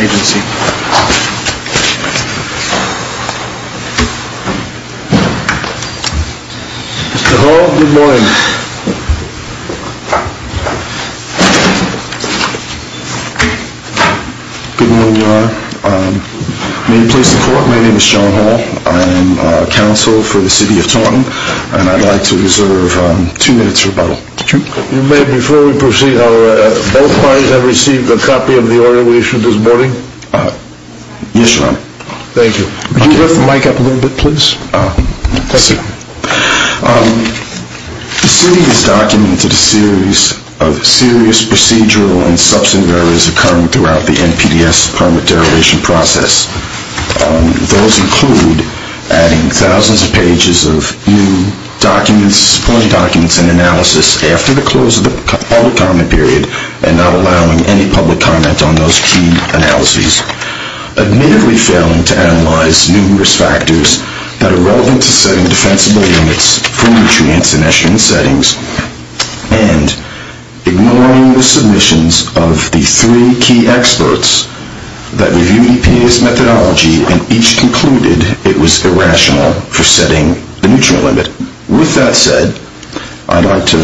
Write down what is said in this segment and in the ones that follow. Agency. Mr. Hall, good morning. Good morning, Your Honor. May you please support me? My name is John Hall. I am a counsel for the City of Taunton, and I'd like to reserve two minutes for rebuttal. You may, before we proceed, however, both parties have received a copy of the order we issued this morning? Yes, Your Honor. Thank you. Could you lift the mic up a little bit, please? The City has documented a series of serious procedural and substantive errors occurring throughout the NPDES permit derivation process. Those include adding thousands of pages of new documents, supporting documents and analysis after the close of the public comment period, and not allowing any public comment on those key analyses, admittedly failing to analyze numerous factors that are relevant to setting defensible limits for nutrients in estuarine settings, and ignoring the submissions of the three key experts that reviewed NPDES methodology and each concluded it was irrational for setting the nutrient limit. With that said, I'd like to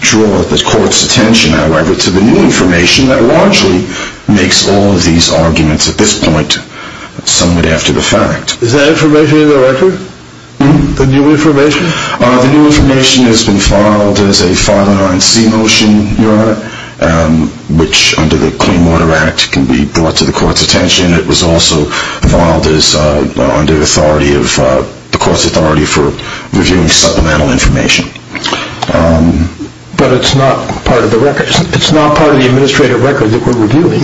draw the Court's attention, however, to the new information that largely makes all of these arguments at this point somewhat after the fact. Is that information in the record? The new information? The new under the Clean Water Act can be brought to the Court's attention. It was also filed under the Court's authority for reviewing supplemental information. But it's not part of the administrative record that we're reviewing?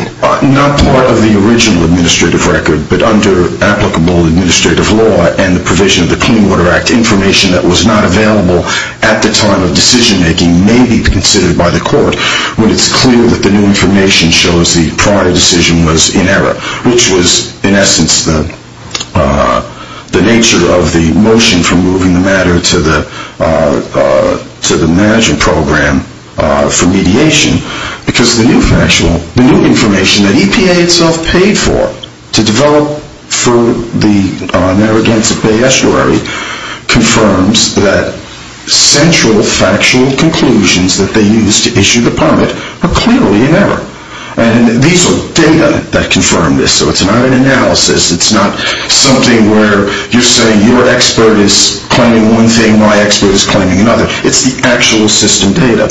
Not part of the original administrative record, but under applicable administrative law and the provision of the Clean Water Act, information that was not available at the time of decision-making may be considered by the Court when it's clear that the new information shows the prior decision was in error, which was, in essence, the nature of the motion for moving the matter to the managing program for mediation, because the new information that EPA itself paid for to develop for the Narragansett Bay Estuary confirms that central factual conclusions that they used to issue the permit are clearly in error. And these are data that confirm this, so it's not an analysis, it's not something where you're saying your expert is claiming one thing, my expert is claiming another. It's the actual system data.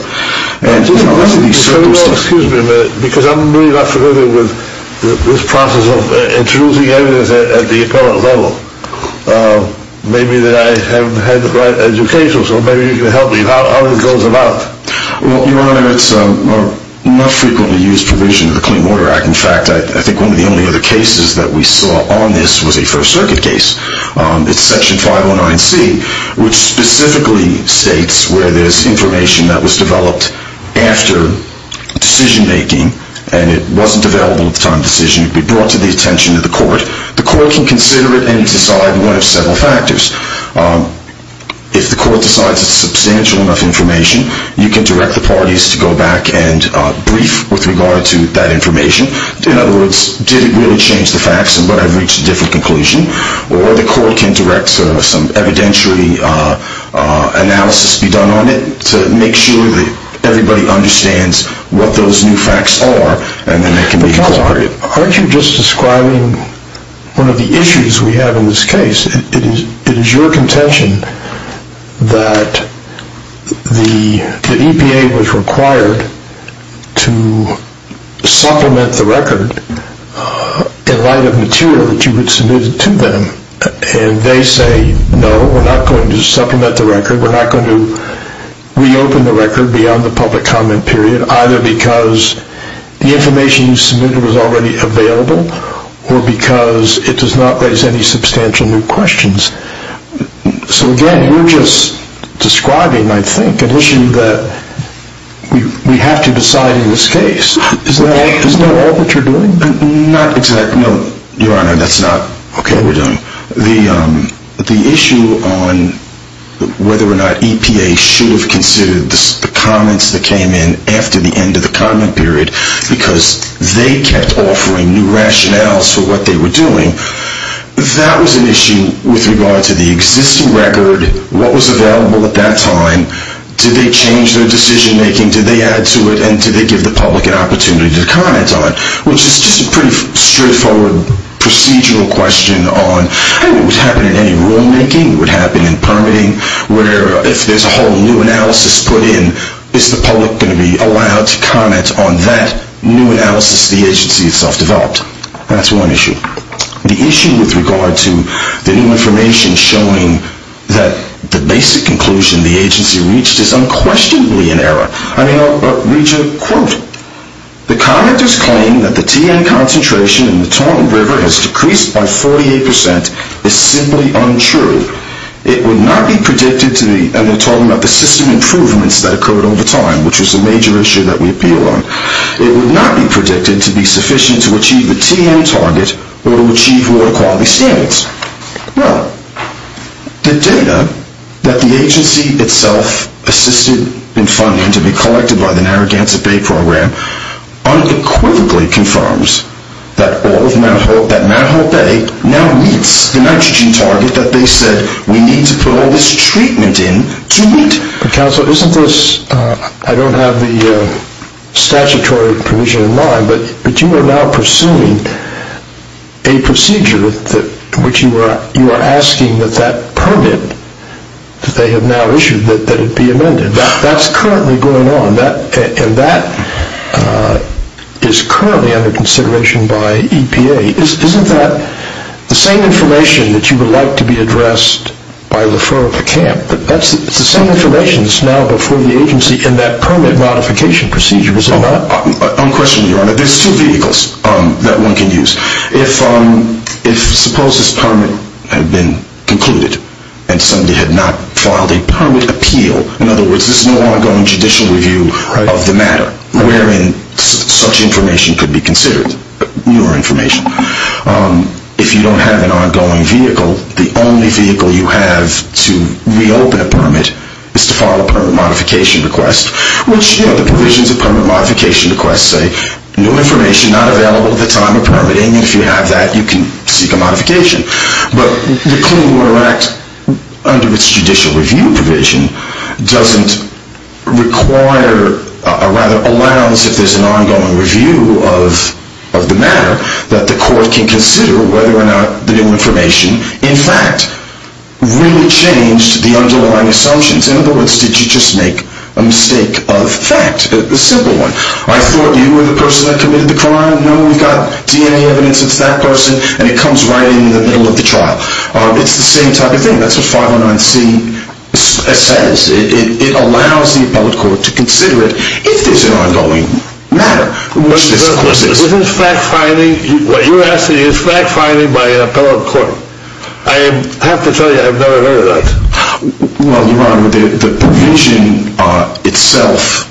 Excuse me a minute, because I'm really not familiar with this maybe that I haven't had the right education, so maybe you can help me. How does it go about? Well, Your Honor, it's not frequently used provision of the Clean Water Act. In fact, I think one of the only other cases that we saw on this was a First Circuit case. It's Section 509C, which specifically states where there's information that was developed after decision-making, and it wasn't available at the time of decision. It would be brought to the attention of the court. The court can consider it and decide one of several factors. If the court decides it's substantial enough information, you can direct the parties to go back and brief with regard to that information. In other words, did it really change the facts and would I have reached a different conclusion? Or the court can direct some evidentiary analysis to be done on it to make sure that everybody understands what those new facts are, and then it can be considered. But, Your Honor, aren't you just describing one of the issues we have in this case? It is your contention that the EPA was required to supplement the record in light of material that you had submitted to them, and they say, no, we're not going to supplement the record, we're not going to reopen the record beyond the public comment period, either because the information you submitted was already available or because it does not raise any substantial new questions. So, again, you're just describing, I think, an issue that we have to decide in this case. Isn't that all that you're doing? Not exactly. No, Your Honor, that's not what we're doing. The issue on whether or not EPA should have considered the comments that came in after the end of the comment period because they kept offering new rationales for what they were doing, that was an issue with regard to the existing record, what was available at that time, did they change their decision making, did they add to it, and did they give the public an opportunity to comment on it, which is just a pretty straightforward procedural question on, hey, what would happen in any rulemaking, what would happen in permitting, where if there's a whole new analysis put in, is the public going to be allowed to comment on that new analysis the agency itself developed? That's one issue. The issue with regard to the new information showing that the basic conclusion the agency reached is unquestionably an error. I mean, I'll read you a quote. The commenters claim that the TN concentration in the Tonga River has decreased by 48 percent is simply untrue. It would not be predicted to be, and they're talking about the system improvements that occurred over time, which was a major issue that we appealed on, it would not be predicted to be sufficient to achieve the TN target or to achieve lower quality standards. Well, the data that the agency itself assisted in finding to be collected by the Narragansett Bay Program unequivocally confirms that all of Manahol, that Manahol Bay now meets the nitrogen target that they said we need to put all this treatment in to meet. But counsel, isn't this, I don't have the statutory permission in mind, but you are now pursuing a procedure which you are asking that that permit that they have now issued that it be amended. That's currently going on, and that is currently under consideration by EPA. Isn't that the same information that you would like to be addressed by the fur of the camp? It's the same information that's now before the agency in that permit modification procedure, is it not? Unquestionably, Your Honor. There's two vehicles that one can use. If suppose this is a permit appeal. In other words, this is an ongoing judicial review of the matter wherein such information could be considered, newer information. If you don't have an ongoing vehicle, the only vehicle you have to reopen a permit is to file a permit modification request, which, you know, the provisions of permit modification requests say no information not available at the time of permitting, and if you have that, you can seek a modification. But the Clean Water Act, under its judicial review provision, doesn't require, or rather allows, if there's an ongoing review of the matter, that the court can consider whether or not the new information, in fact, really changed the underlying assumptions. In other words, did you just make a mistake of fact? A simple one. I thought you were the person that committed the crime. No, we've got DNA evidence, it's that person, and it comes right in the middle of the trial. It's the same type of thing. That's what 509C says. It allows the appellate court to consider it if there's an ongoing matter, which this of course is. Was this fact finding? What you're asking is fact finding by an appellate court. I have to tell you, I've never heard of that. Well, Your Honor, the provision itself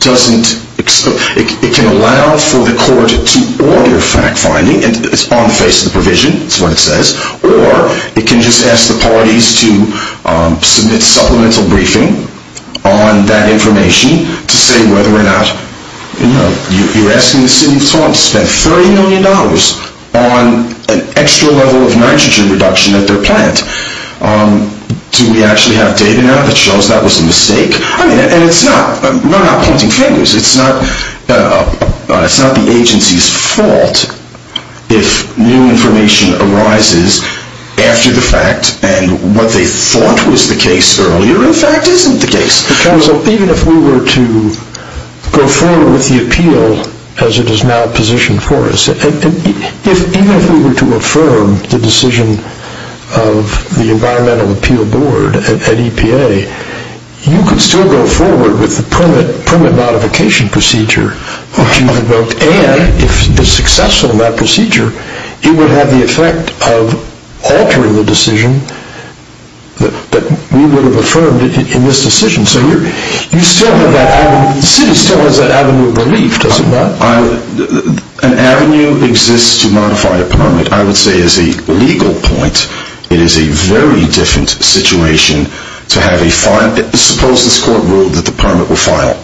doesn't, it can allow for the court to order fact finding, it's on the face of the provision, that's what it says, or it can just ask the parties to submit supplemental briefing on that information to say whether or not, you know, you're asking the city of Toronto to spend $30 million on an extra level of nitrogen reduction at their plant. Do we actually have data now that shows that was a mistake? And it's not, we're not pointing fingers, it's not the agency's fault if new information arises after the fact and what they thought was the case earlier in fact isn't the case. Counsel, even if we were to go forward with the appeal as it is now positioned for us, even if we were to affirm the decision of the Environmental Appeal Board at EPA, you could still go forward with the permit modification procedure, and if it's successful in that procedure, it would have the effect of altering the decision that we would have affirmed in this decision, so you still have that avenue, the city still has that avenue of relief, does it not? An avenue exists to modify a permit. I would say as a legal point, it is a very different situation to have a fine, suppose this court ruled that the permit will file,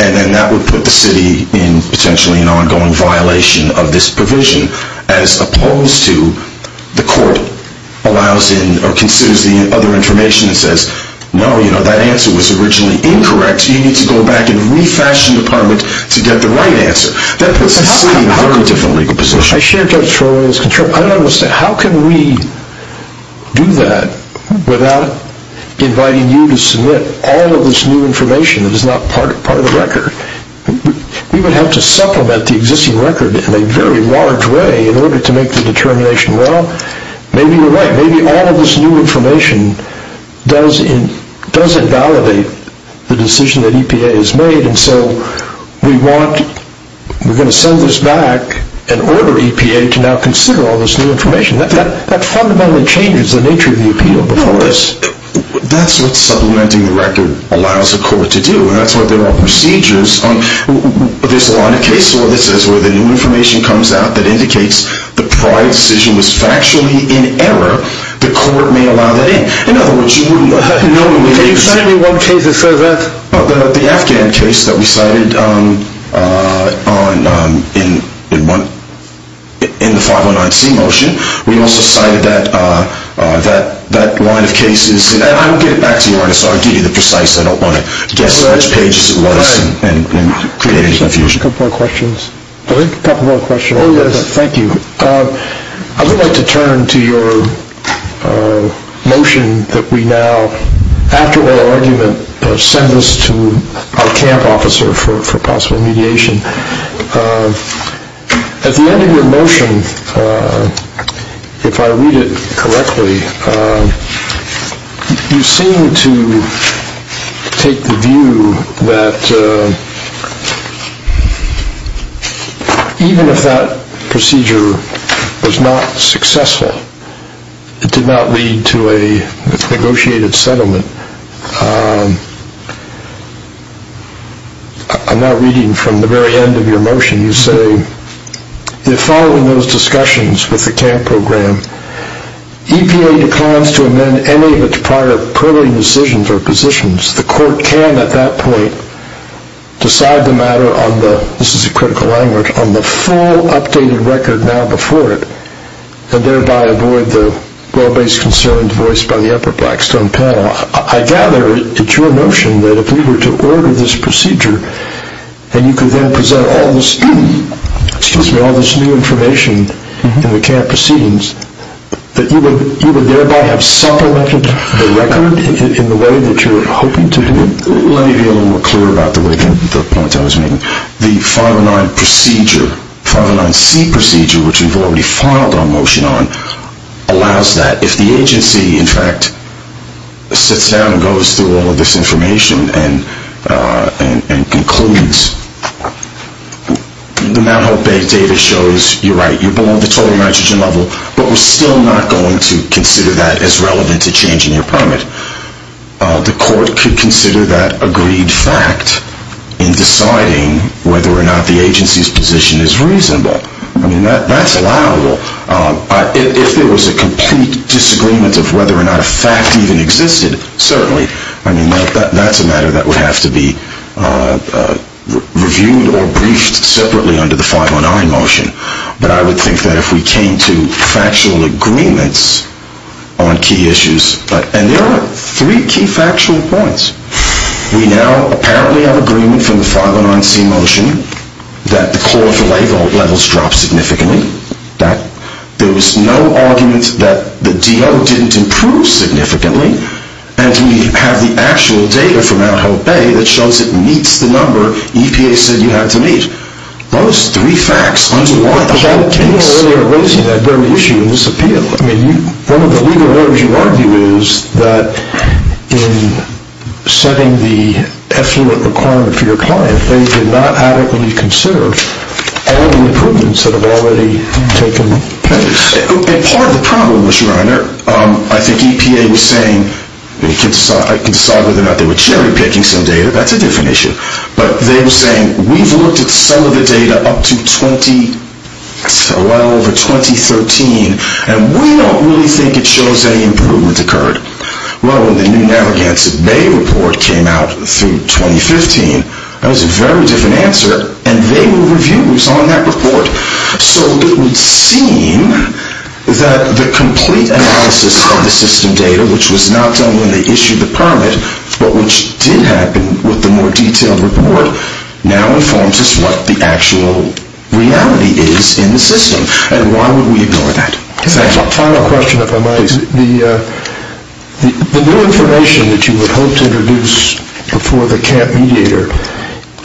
and then that would put the city in potentially an ongoing violation of this provision, as opposed to the court allows in or considers the other information and says, no, you know, that answer was originally incorrect, you need to go back and refashion the permit to get the right answer. That puts the city in a very different legal position. How can we do that without inviting you to submit all of this new information that is not part of the record? We would have to supplement the existing record in a very large way in order to make the determination, well, maybe you're right, maybe all of this new information doesn't validate the decision that EPA has made, and so we want, we're going to send this back and order EPA to now consider all of this new information. That fundamentally changes the nature of the appeal before us. No, that's what supplementing the record allows a court to do, and that's what they're all procedures, there's a lot of cases where the new information comes out that indicates the prior decision was factually in error, the court may allow that in. In other words, you wouldn't normally... Can you cite any one case that says that? The Afghan case that we cited in the 509C motion, we also cited that line of cases, and I will get it back to you Ernest, I'll give you the precise, I don't want to guess how much pages it was and create any confusion. A couple more questions. A couple more questions. Oh yes, thank you. I would like to turn to your motion that we now, after our argument, send this to our camp officer for possible mediation. At the end of your motion, if I Even if that procedure was not successful, it did not lead to a negotiated settlement, I'm now reading from the very end of your motion, you say, if following those discussions with the camp program, EPA declines to amend any of its prior purling decisions or positions, the court can at that point decide the matter on the, this is a critical language, on the full updated record now before it, and thereby avoid the well-based concerned voice by the upper Blackstone panel. I gather it's your notion that if we were to order this procedure, and you could then present all this new information in the camp proceedings, that you would thereby have self-elected the record in the way that you're hoping to do it? Let me be a little more clear about the point I was making. The 509 procedure, 509C procedure, which we've already filed our motion on, allows that. If the agency, in fact, sits down and goes through all of this information and concludes, the Mt. Hope Bay data shows you're right, you're below the total nitrogen level, but we're still not going to consider that as relevant to changing your permit, the court could consider that agreed fact in deciding whether or not the agency's position is reasonable. I mean, that's allowable. If there was a complete disagreement of whether or not a fact even existed, certainly. I mean, that's a matter that would have to be reviewed or briefed separately under the 509 motion, but I would think that if we came to factual agreements on key issues, and there are three key factual points. We now apparently have agreement from the 509C motion that the core of the levels dropped significantly, that there was no argument that the DO didn't improve significantly, and we have the actual data from Mt. Hope Bay that shows it meets the number EPA said you had to meet. Those three facts underlie the whole case. But you were earlier raising that very issue in this appeal. I mean, one of the legal errors you argue is that in setting the effluent requirement for your client, they did not adequately consider all the improvements that have already taken place. And part of the problem was, Reiner, I think EPA was saying, I can decide whether or not they were cherry-picking some data. That's a different issue. But they were saying, we've looked at some of the data up to 2013, and we don't really think it shows any improvement occurred. Well, when the new Navigants at Bay report came out through 2015, that was a very different answer, and they were reviews on that report. So it would seem that the complete analysis of the system data, which was not done when they issued the permit, but which did happen with the more detailed report, now informs us what the actual reality is in the system. And why would we ignore that? Final question, if I might. The new information that you would hope to introduce before the camp mediator,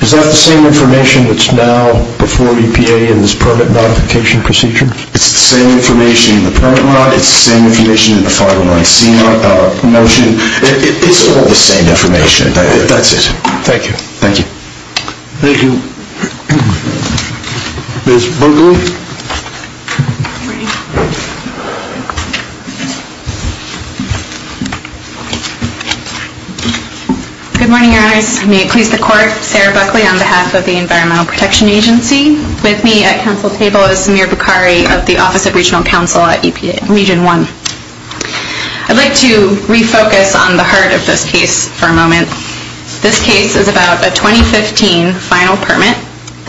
is that the same information that's now before EPA in this permit modification procedure? It's the same information in the permit mod. It's the same information in the 501C motion. It's all the same information. That's it. Thank you. Thank you. Thank you. Ms. Buckley? Good morning, Your Honors. May it please the Court, Sarah Buckley on behalf of the Environmental Protection Agency. With me at Council table is Samir Bukhari of the Office of Regional Counsel at EPA Region 1. I'd like to refocus on the heart of this case for a moment. This case is about a 2015 final permit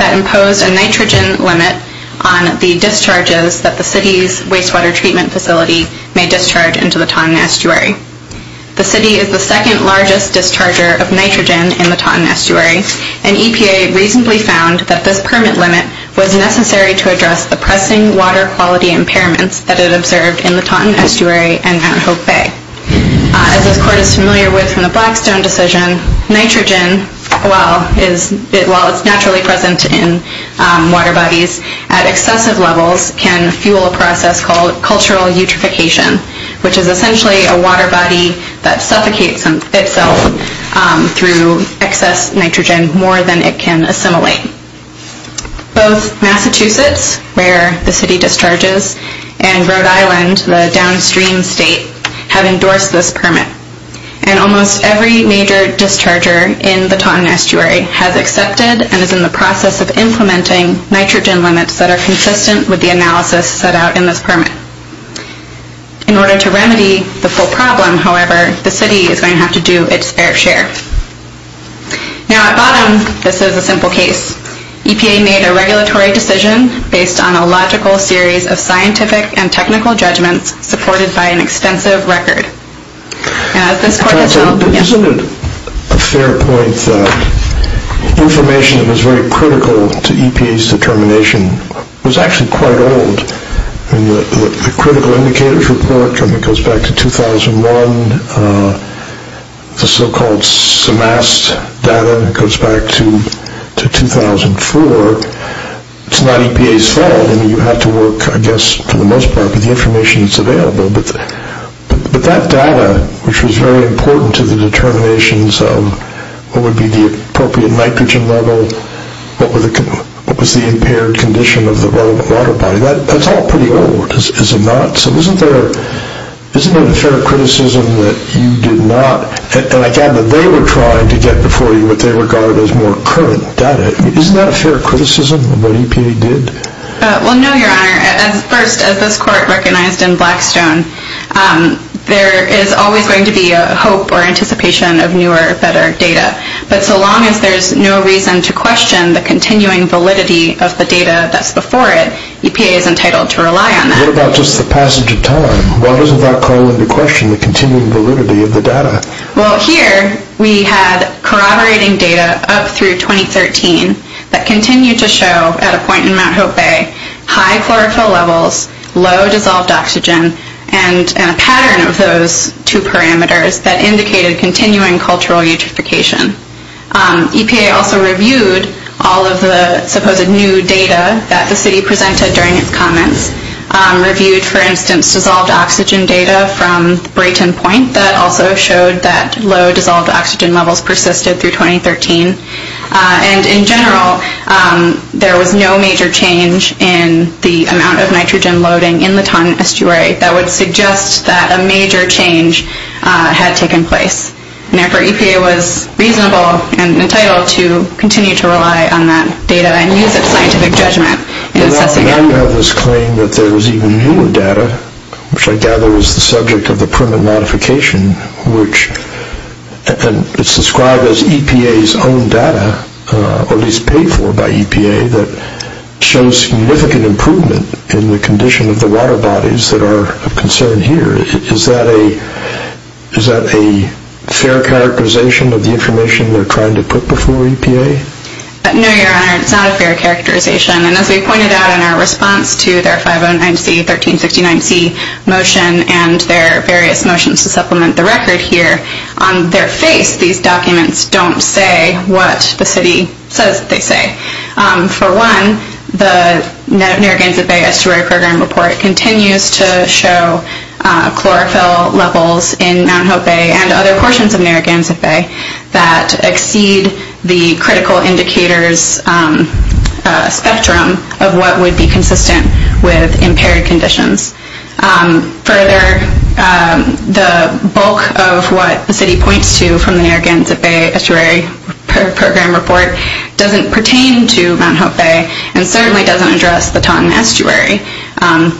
that imposed a nitrogen limit on the discharges that the city's wastewater treatment facility may discharge into the Taunton Estuary. The city is the second largest discharger of nitrogen in the Taunton Estuary, and EPA reasonably found that this permit limit was necessary to address the pressing water quality impairments that it observed in the Taunton Estuary and Mount Hope Bay. As this Court is familiar with from the Blackstone decision, nitrogen, while it's naturally present in water bodies at excessive levels, can fuel a process called cultural eutrophication, which is essentially a water body that suffocates itself through excess nitrogen more than it can assimilate. Both Massachusetts, where the city discharges, and Rhode Island, the downstream state, have found that every major discharger in the Taunton Estuary has accepted and is in the process of implementing nitrogen limits that are consistent with the analysis set out in this permit. In order to remedy the full problem, however, the city is going to have to do its fair share. Now at bottom, this is a simple case. EPA made a regulatory decision based on a logical series of scientific and technical judgments supported by an extensive record. This is a fair point. Information that was very critical to EPA's determination was actually quite old. The critical indicators report goes back to 2001. The so-called semast data goes back to 2004. It's not EPA's fault. You have to work, I guess, for the most part with the semast data, which was very important to the determinations of what would be the appropriate nitrogen level, what was the impaired condition of the relevant water body. That's all pretty old, is it not? So isn't there a fair criticism that you did not, and again, that they were trying to get before you what they regarded as more current data. Isn't that a fair criticism of what EPA did? Well, no, Your Honor. First, as this court recognized in Blackstone, there is always going to be a hope or anticipation of newer, better data. But so long as there's no reason to question the continuing validity of the data that's before it, EPA is entitled to rely on that. What about just the passage of time? Why doesn't that call into question the continuing validity of the data? Well, here we had corroborating data up through 2013 that continued to show, at a point in Mt. Hope Bay, high chlorophyll levels, low dissolved oxygen, and a pattern of those two parameters that indicated continuing cultural eutrophication. EPA also reviewed all of the supposed new data that the city presented during its comments, reviewed, for instance, dissolved oxygen data from Brayton Point that also showed that low dissolved oxygen levels persisted through 2013. And in general, there was no major change in the amount of nitrogen loading in the Taun Estuary that would suggest that a major change had taken place. Therefore, EPA was reasonable and entitled to continue to rely on that data and use its scientific judgment in assessing it. Now you have this claim that there is even newer data, which I gather is the subject of the permit modification, which is described as EPA's own data, or at least paid for by EPA, that shows significant improvement in the condition of the water bodies that are of concern here. Is that a fair characterization of the information they're trying to put before EPA? No, Your Honor, it's not a fair characterization. And as we pointed out in our response to their 509C, 1369C motion and their various motions to supplement the record here, on their face, these documents don't say what the city says they say. For one, the Narragansett Bay Estuary Program Report continues to show chlorophyll levels in Mount Hope Bay and other portions of the local indicators spectrum of what would be consistent with impaired conditions. Further, the bulk of what the city points to from the Narragansett Bay Estuary Program Report doesn't pertain to Mount Hope Bay and certainly doesn't address the Taun Estuary.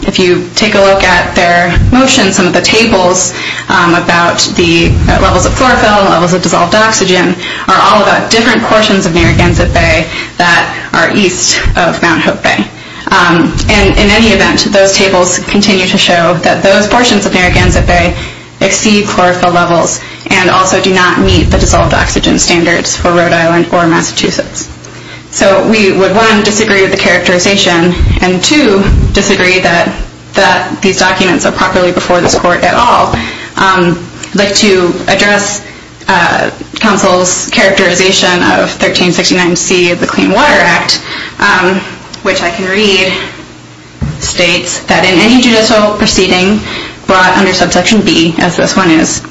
If you take a look at their motions, some of the tables about the levels of chlorophyll, levels of dissolved oxygen, are all about different portions of Narragansett Bay that are east of Mount Hope Bay. And in any event, those tables continue to show that those portions of Narragansett Bay exceed chlorophyll levels and also do not meet the dissolved oxygen standards for Rhode Island or Massachusetts. So we would, one, disagree with the characterization and, two, disagree that these documents are properly before this Court at all. I'd like to address counsel's characterization of 1369C of the Clean Water Act, which I can read, states that in any judicial proceeding brought under subsection B, as this one is,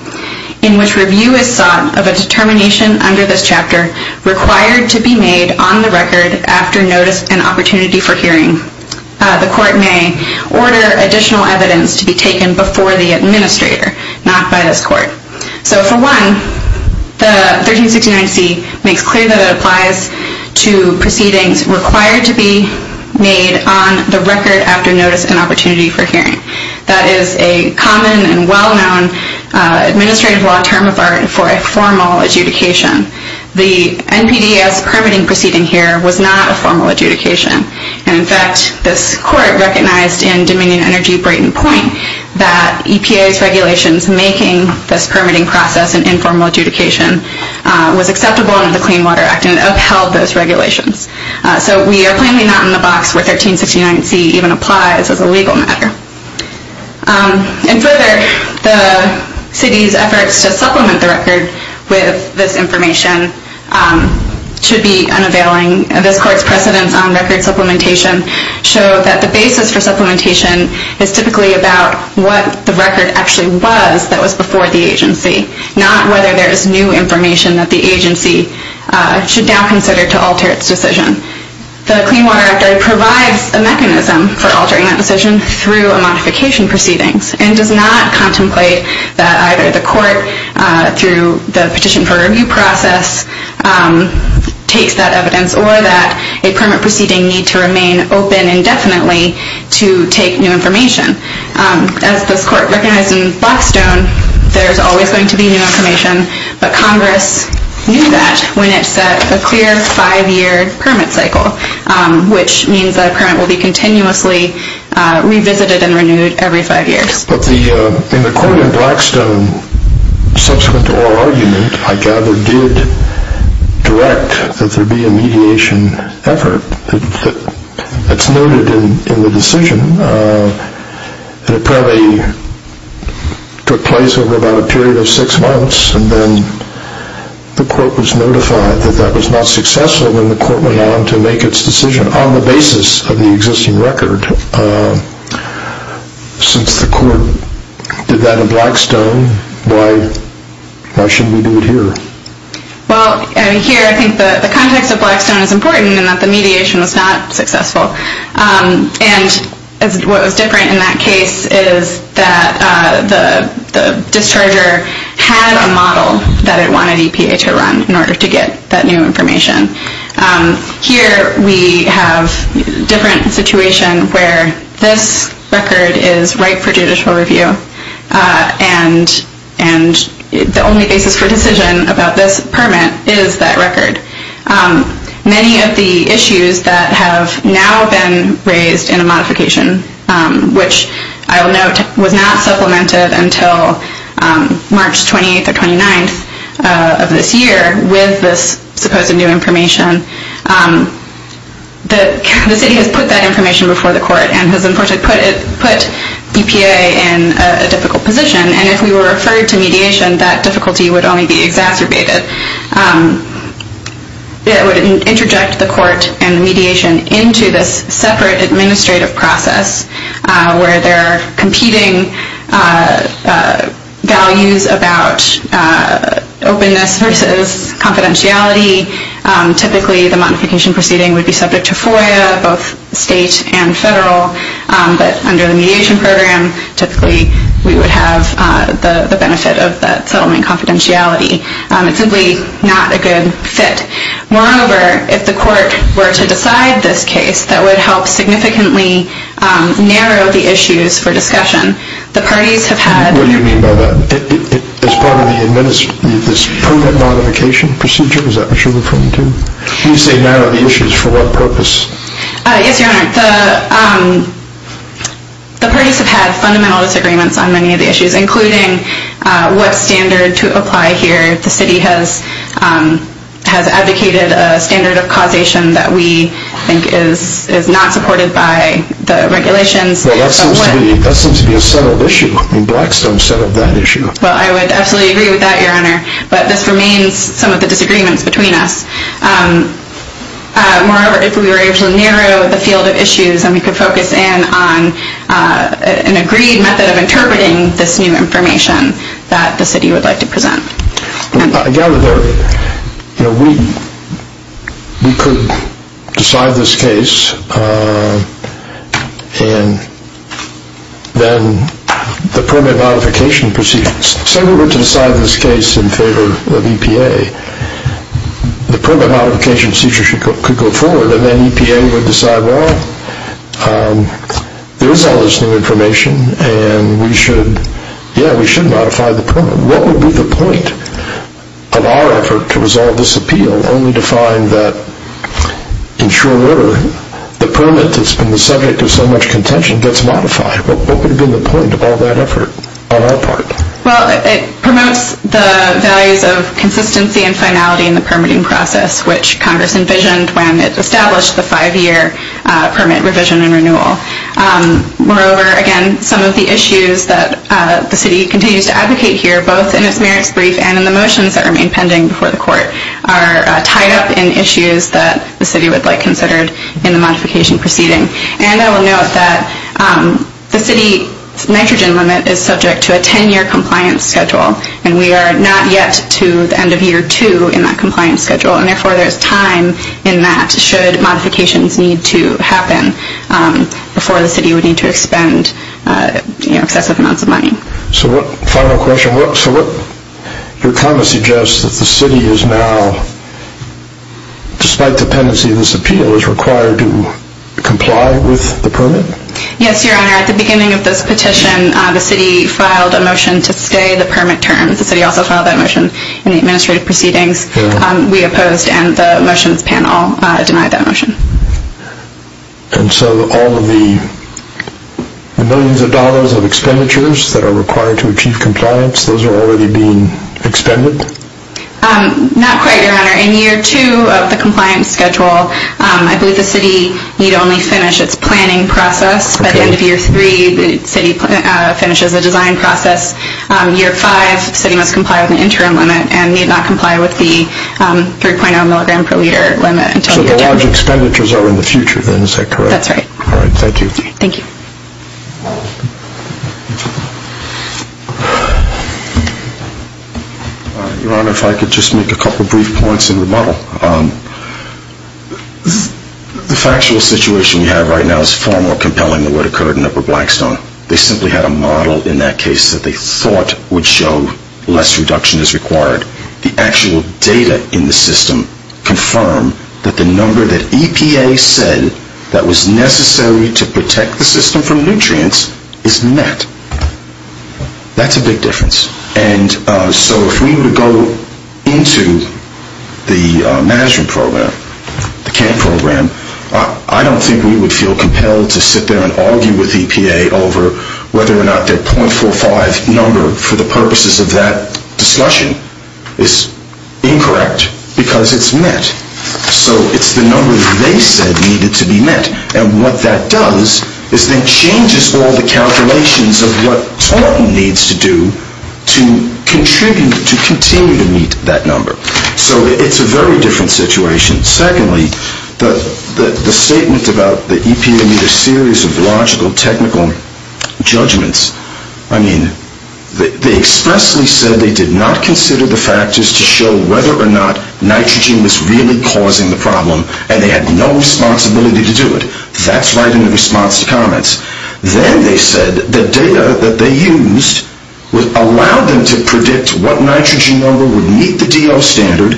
in which review is sought of a determination under this chapter required to be made on the record after notice and opportunity for hearing, the Court may order additional evidence to be taken before the administrator, not by this Court. So for one, the 1369C makes clear that it applies to proceedings required to be made on the record after notice and opportunity for hearing. That is a common and well-known administrative law term of art for a formal adjudication. The NPDES permitting proceeding here was not a formal adjudication. In fact, this Court recognized in Dominion Energy Brayton Point that EPA's regulations making this permitting process an informal adjudication was acceptable under the Clean Water Act and upheld those regulations. So we are plainly not in the box where 1369C even applies as a legal matter. And further, the City's efforts to supplement the record with this information should be unavailing. This Court's precedence on record supplementation showed that the basis for supplementation is typically about what the record actually was that was before the agency, not whether there is new information that the agency should now consider to alter its decision. The Clean Water Act provides a mechanism for altering that decision through a modification proceedings and does not contemplate that either the Court through the petition for review process takes that evidence or that a permit proceeding need to remain open indefinitely to take new information. As this Court recognized in Blackstone, there is always going to be new information, but Congress knew that when it set a clear five-year permit cycle, which means that a permit will be continuously revisited and subsequent to oral argument, I gather, did direct that there be a mediation effort. That's noted in the decision. It probably took place over about a period of six months and then the Court was notified that that was not successful when the Court went on to make its decision on the basis of the existing record. Since the Court did that in Blackstone, why shouldn't we do it here? Well, here I think the context of Blackstone is important in that the mediation was not successful. And what was different in that case is that the discharger had a model that we have different situation where this record is right for judicial review and the only basis for decision about this permit is that record. Many of the issues that have now been raised in a modification, which I will note was not supplemented until March 28th or 29th of this year with this supposed new information, the city has put that information before the Court and has unfortunately put EPA in a difficult position. And if we were referred to mediation, that difficulty would only be exacerbated. It would interject the Court and the mediation into this separate administrative process where there are competing values about openness versus confidentiality. Typically the modification proceeding would be subject to FOIA, both state and federal, but under the mediation program, typically we would have the benefit of that in this case that would help significantly narrow the issues for discussion. The parties have had What do you mean by that? As part of this permit modification procedure? Is that what you're referring to? When you say narrow the issues, for what purpose? Yes, Your Honor. The parties have had fundamental disagreements on many of the issues, including what standard to apply here. The city has advocated a standard of causation that we think is not supported by the regulations. Well, that seems to be a settled issue. Blackstone settled that issue. Well, I would absolutely agree with that, Your Honor, but this remains some of the disagreements between us. Moreover, if we were able to narrow the field of issues and we could focus in on an agreed method of negotiation that the city would like to present. I gather that we could decide this case and then the permit modification procedure... Say we were to decide this case in favor of EPA, the permit modification procedure could go forward and then EPA would decide, well, there is all this new information and we should, yeah, we should modify the permit. What would be the point of our effort to resolve this appeal only to find that, in short order, the permit that's been the subject of so much contention gets modified? What would have been the point of all that effort on our part? Well, it promotes the values of consistency and finality in the permitting process, which Congress envisioned when it established the five-year permit revision and renewal. Moreover, again, some of the issues that the city continues to advocate here, both in its merits brief and in the motions that remain pending before the court, are tied up in issues that the city would like considered in the modification proceeding. And I will note that the city's nitrogen limit is subject to a ten-year compliance schedule and we are not yet to the end of year two in that compliance schedule, and therefore there is time in that should modifications need to happen before the city would need to expend excessive amounts of money. So what, final question, so what your comment suggests is that the city is now, despite dependency of this appeal, is required to comply with the permit? Yes, Your Honor, at the beginning of this petition, the city filed a motion to stay the permit terms. The city also filed that motion in the administrative proceedings. We opposed and the motions panel denied that motion. And so all of the millions of dollars of expenditures that are required to achieve compliance, those are already being expended? Not quite, Your Honor. In year two of the compliance schedule, I believe the city need only finish its planning process. By the end of year three, the city finishes the design process. Year five, the city must comply with the interim limit and need not comply with the 3.0 milligram per liter limit. So large expenditures are in the future then, is that correct? That's right. All right, thank you. Thank you. Your Honor, if I could just make a couple brief points in rebuttal. The factual situation we have right now is far more compelling than what occurred in Upper Blackstone. They simply had a model in that case that they thought would show less reduction is required. The actual data in the system confirm that the number that EPA said that was necessary to protect the system from nutrients is met. That's a big difference. And so if we were to go into the management program, the CAM program, I don't think we would feel compelled to sit there and argue with EPA over whether or not their .45 number for the purposes of that discussion is incorrect because it's met. So it's the number that they said needed to be met. And what that does is then changes all the calculations of what Thornton needs to do to contribute, to continue to meet that number. So it's a very different situation. Secondly, the statement about the EPA need a series of logical, technical judgments. I mean, they expressly said they did not consider the factors to show whether or not nitrogen was really causing the problem, and they had no responsibility to do it. That's right in response to comments. Then they said the data that they used allowed them to predict what nitrogen number would meet the DO standard.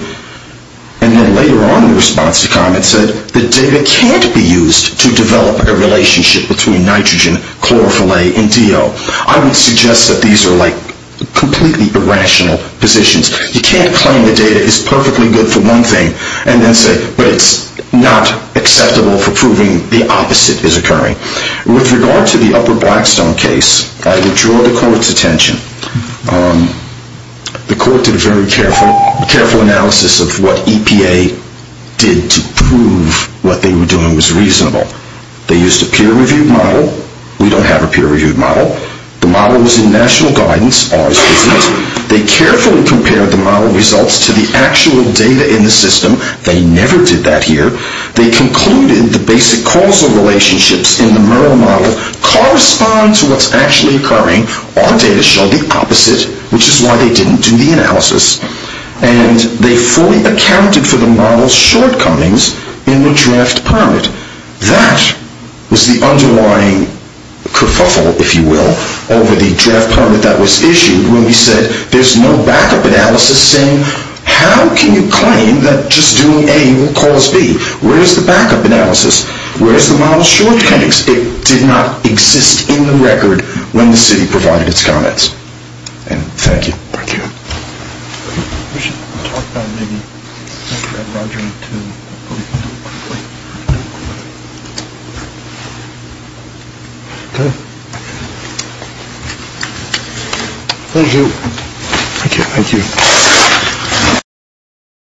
And then later on in response to comments said the data can't be used to develop a relationship between nitrogen, chlorophyll-A, and DO. I would suggest that these are like completely irrational positions. You can't claim the data is perfectly good for one thing and then say, but it's not acceptable for proving the opposite is occurring. With regard to the upper Blackstone case, I would draw the court's attention. The court did a very careful analysis of what EPA did to prove what they were doing was reasonable. They used a peer-reviewed model. We don't have a peer-reviewed model. The model was in national guidance. Ours isn't. They carefully compared the model results to the actual data in the system. They never did that here. They concluded the basic causal relationships in the Merrill model correspond to what's actually occurring. Our data showed the opposite, which is why they didn't do the analysis. And they fully accounted for the model's shortcomings in the draft permit. That was the underlying kerfuffle, if you will, over the draft permit that was issued when we said there's no backup analysis saying how can you claim that just doing A will cause B? Where's the backup analysis? Where's the model's shortcomings? It did not exist in the record when the city provided its comments. And thank you. Thank you. We should talk about maybe, after I've brought you to a point. Okay. Thank you. Thank you. Thank you.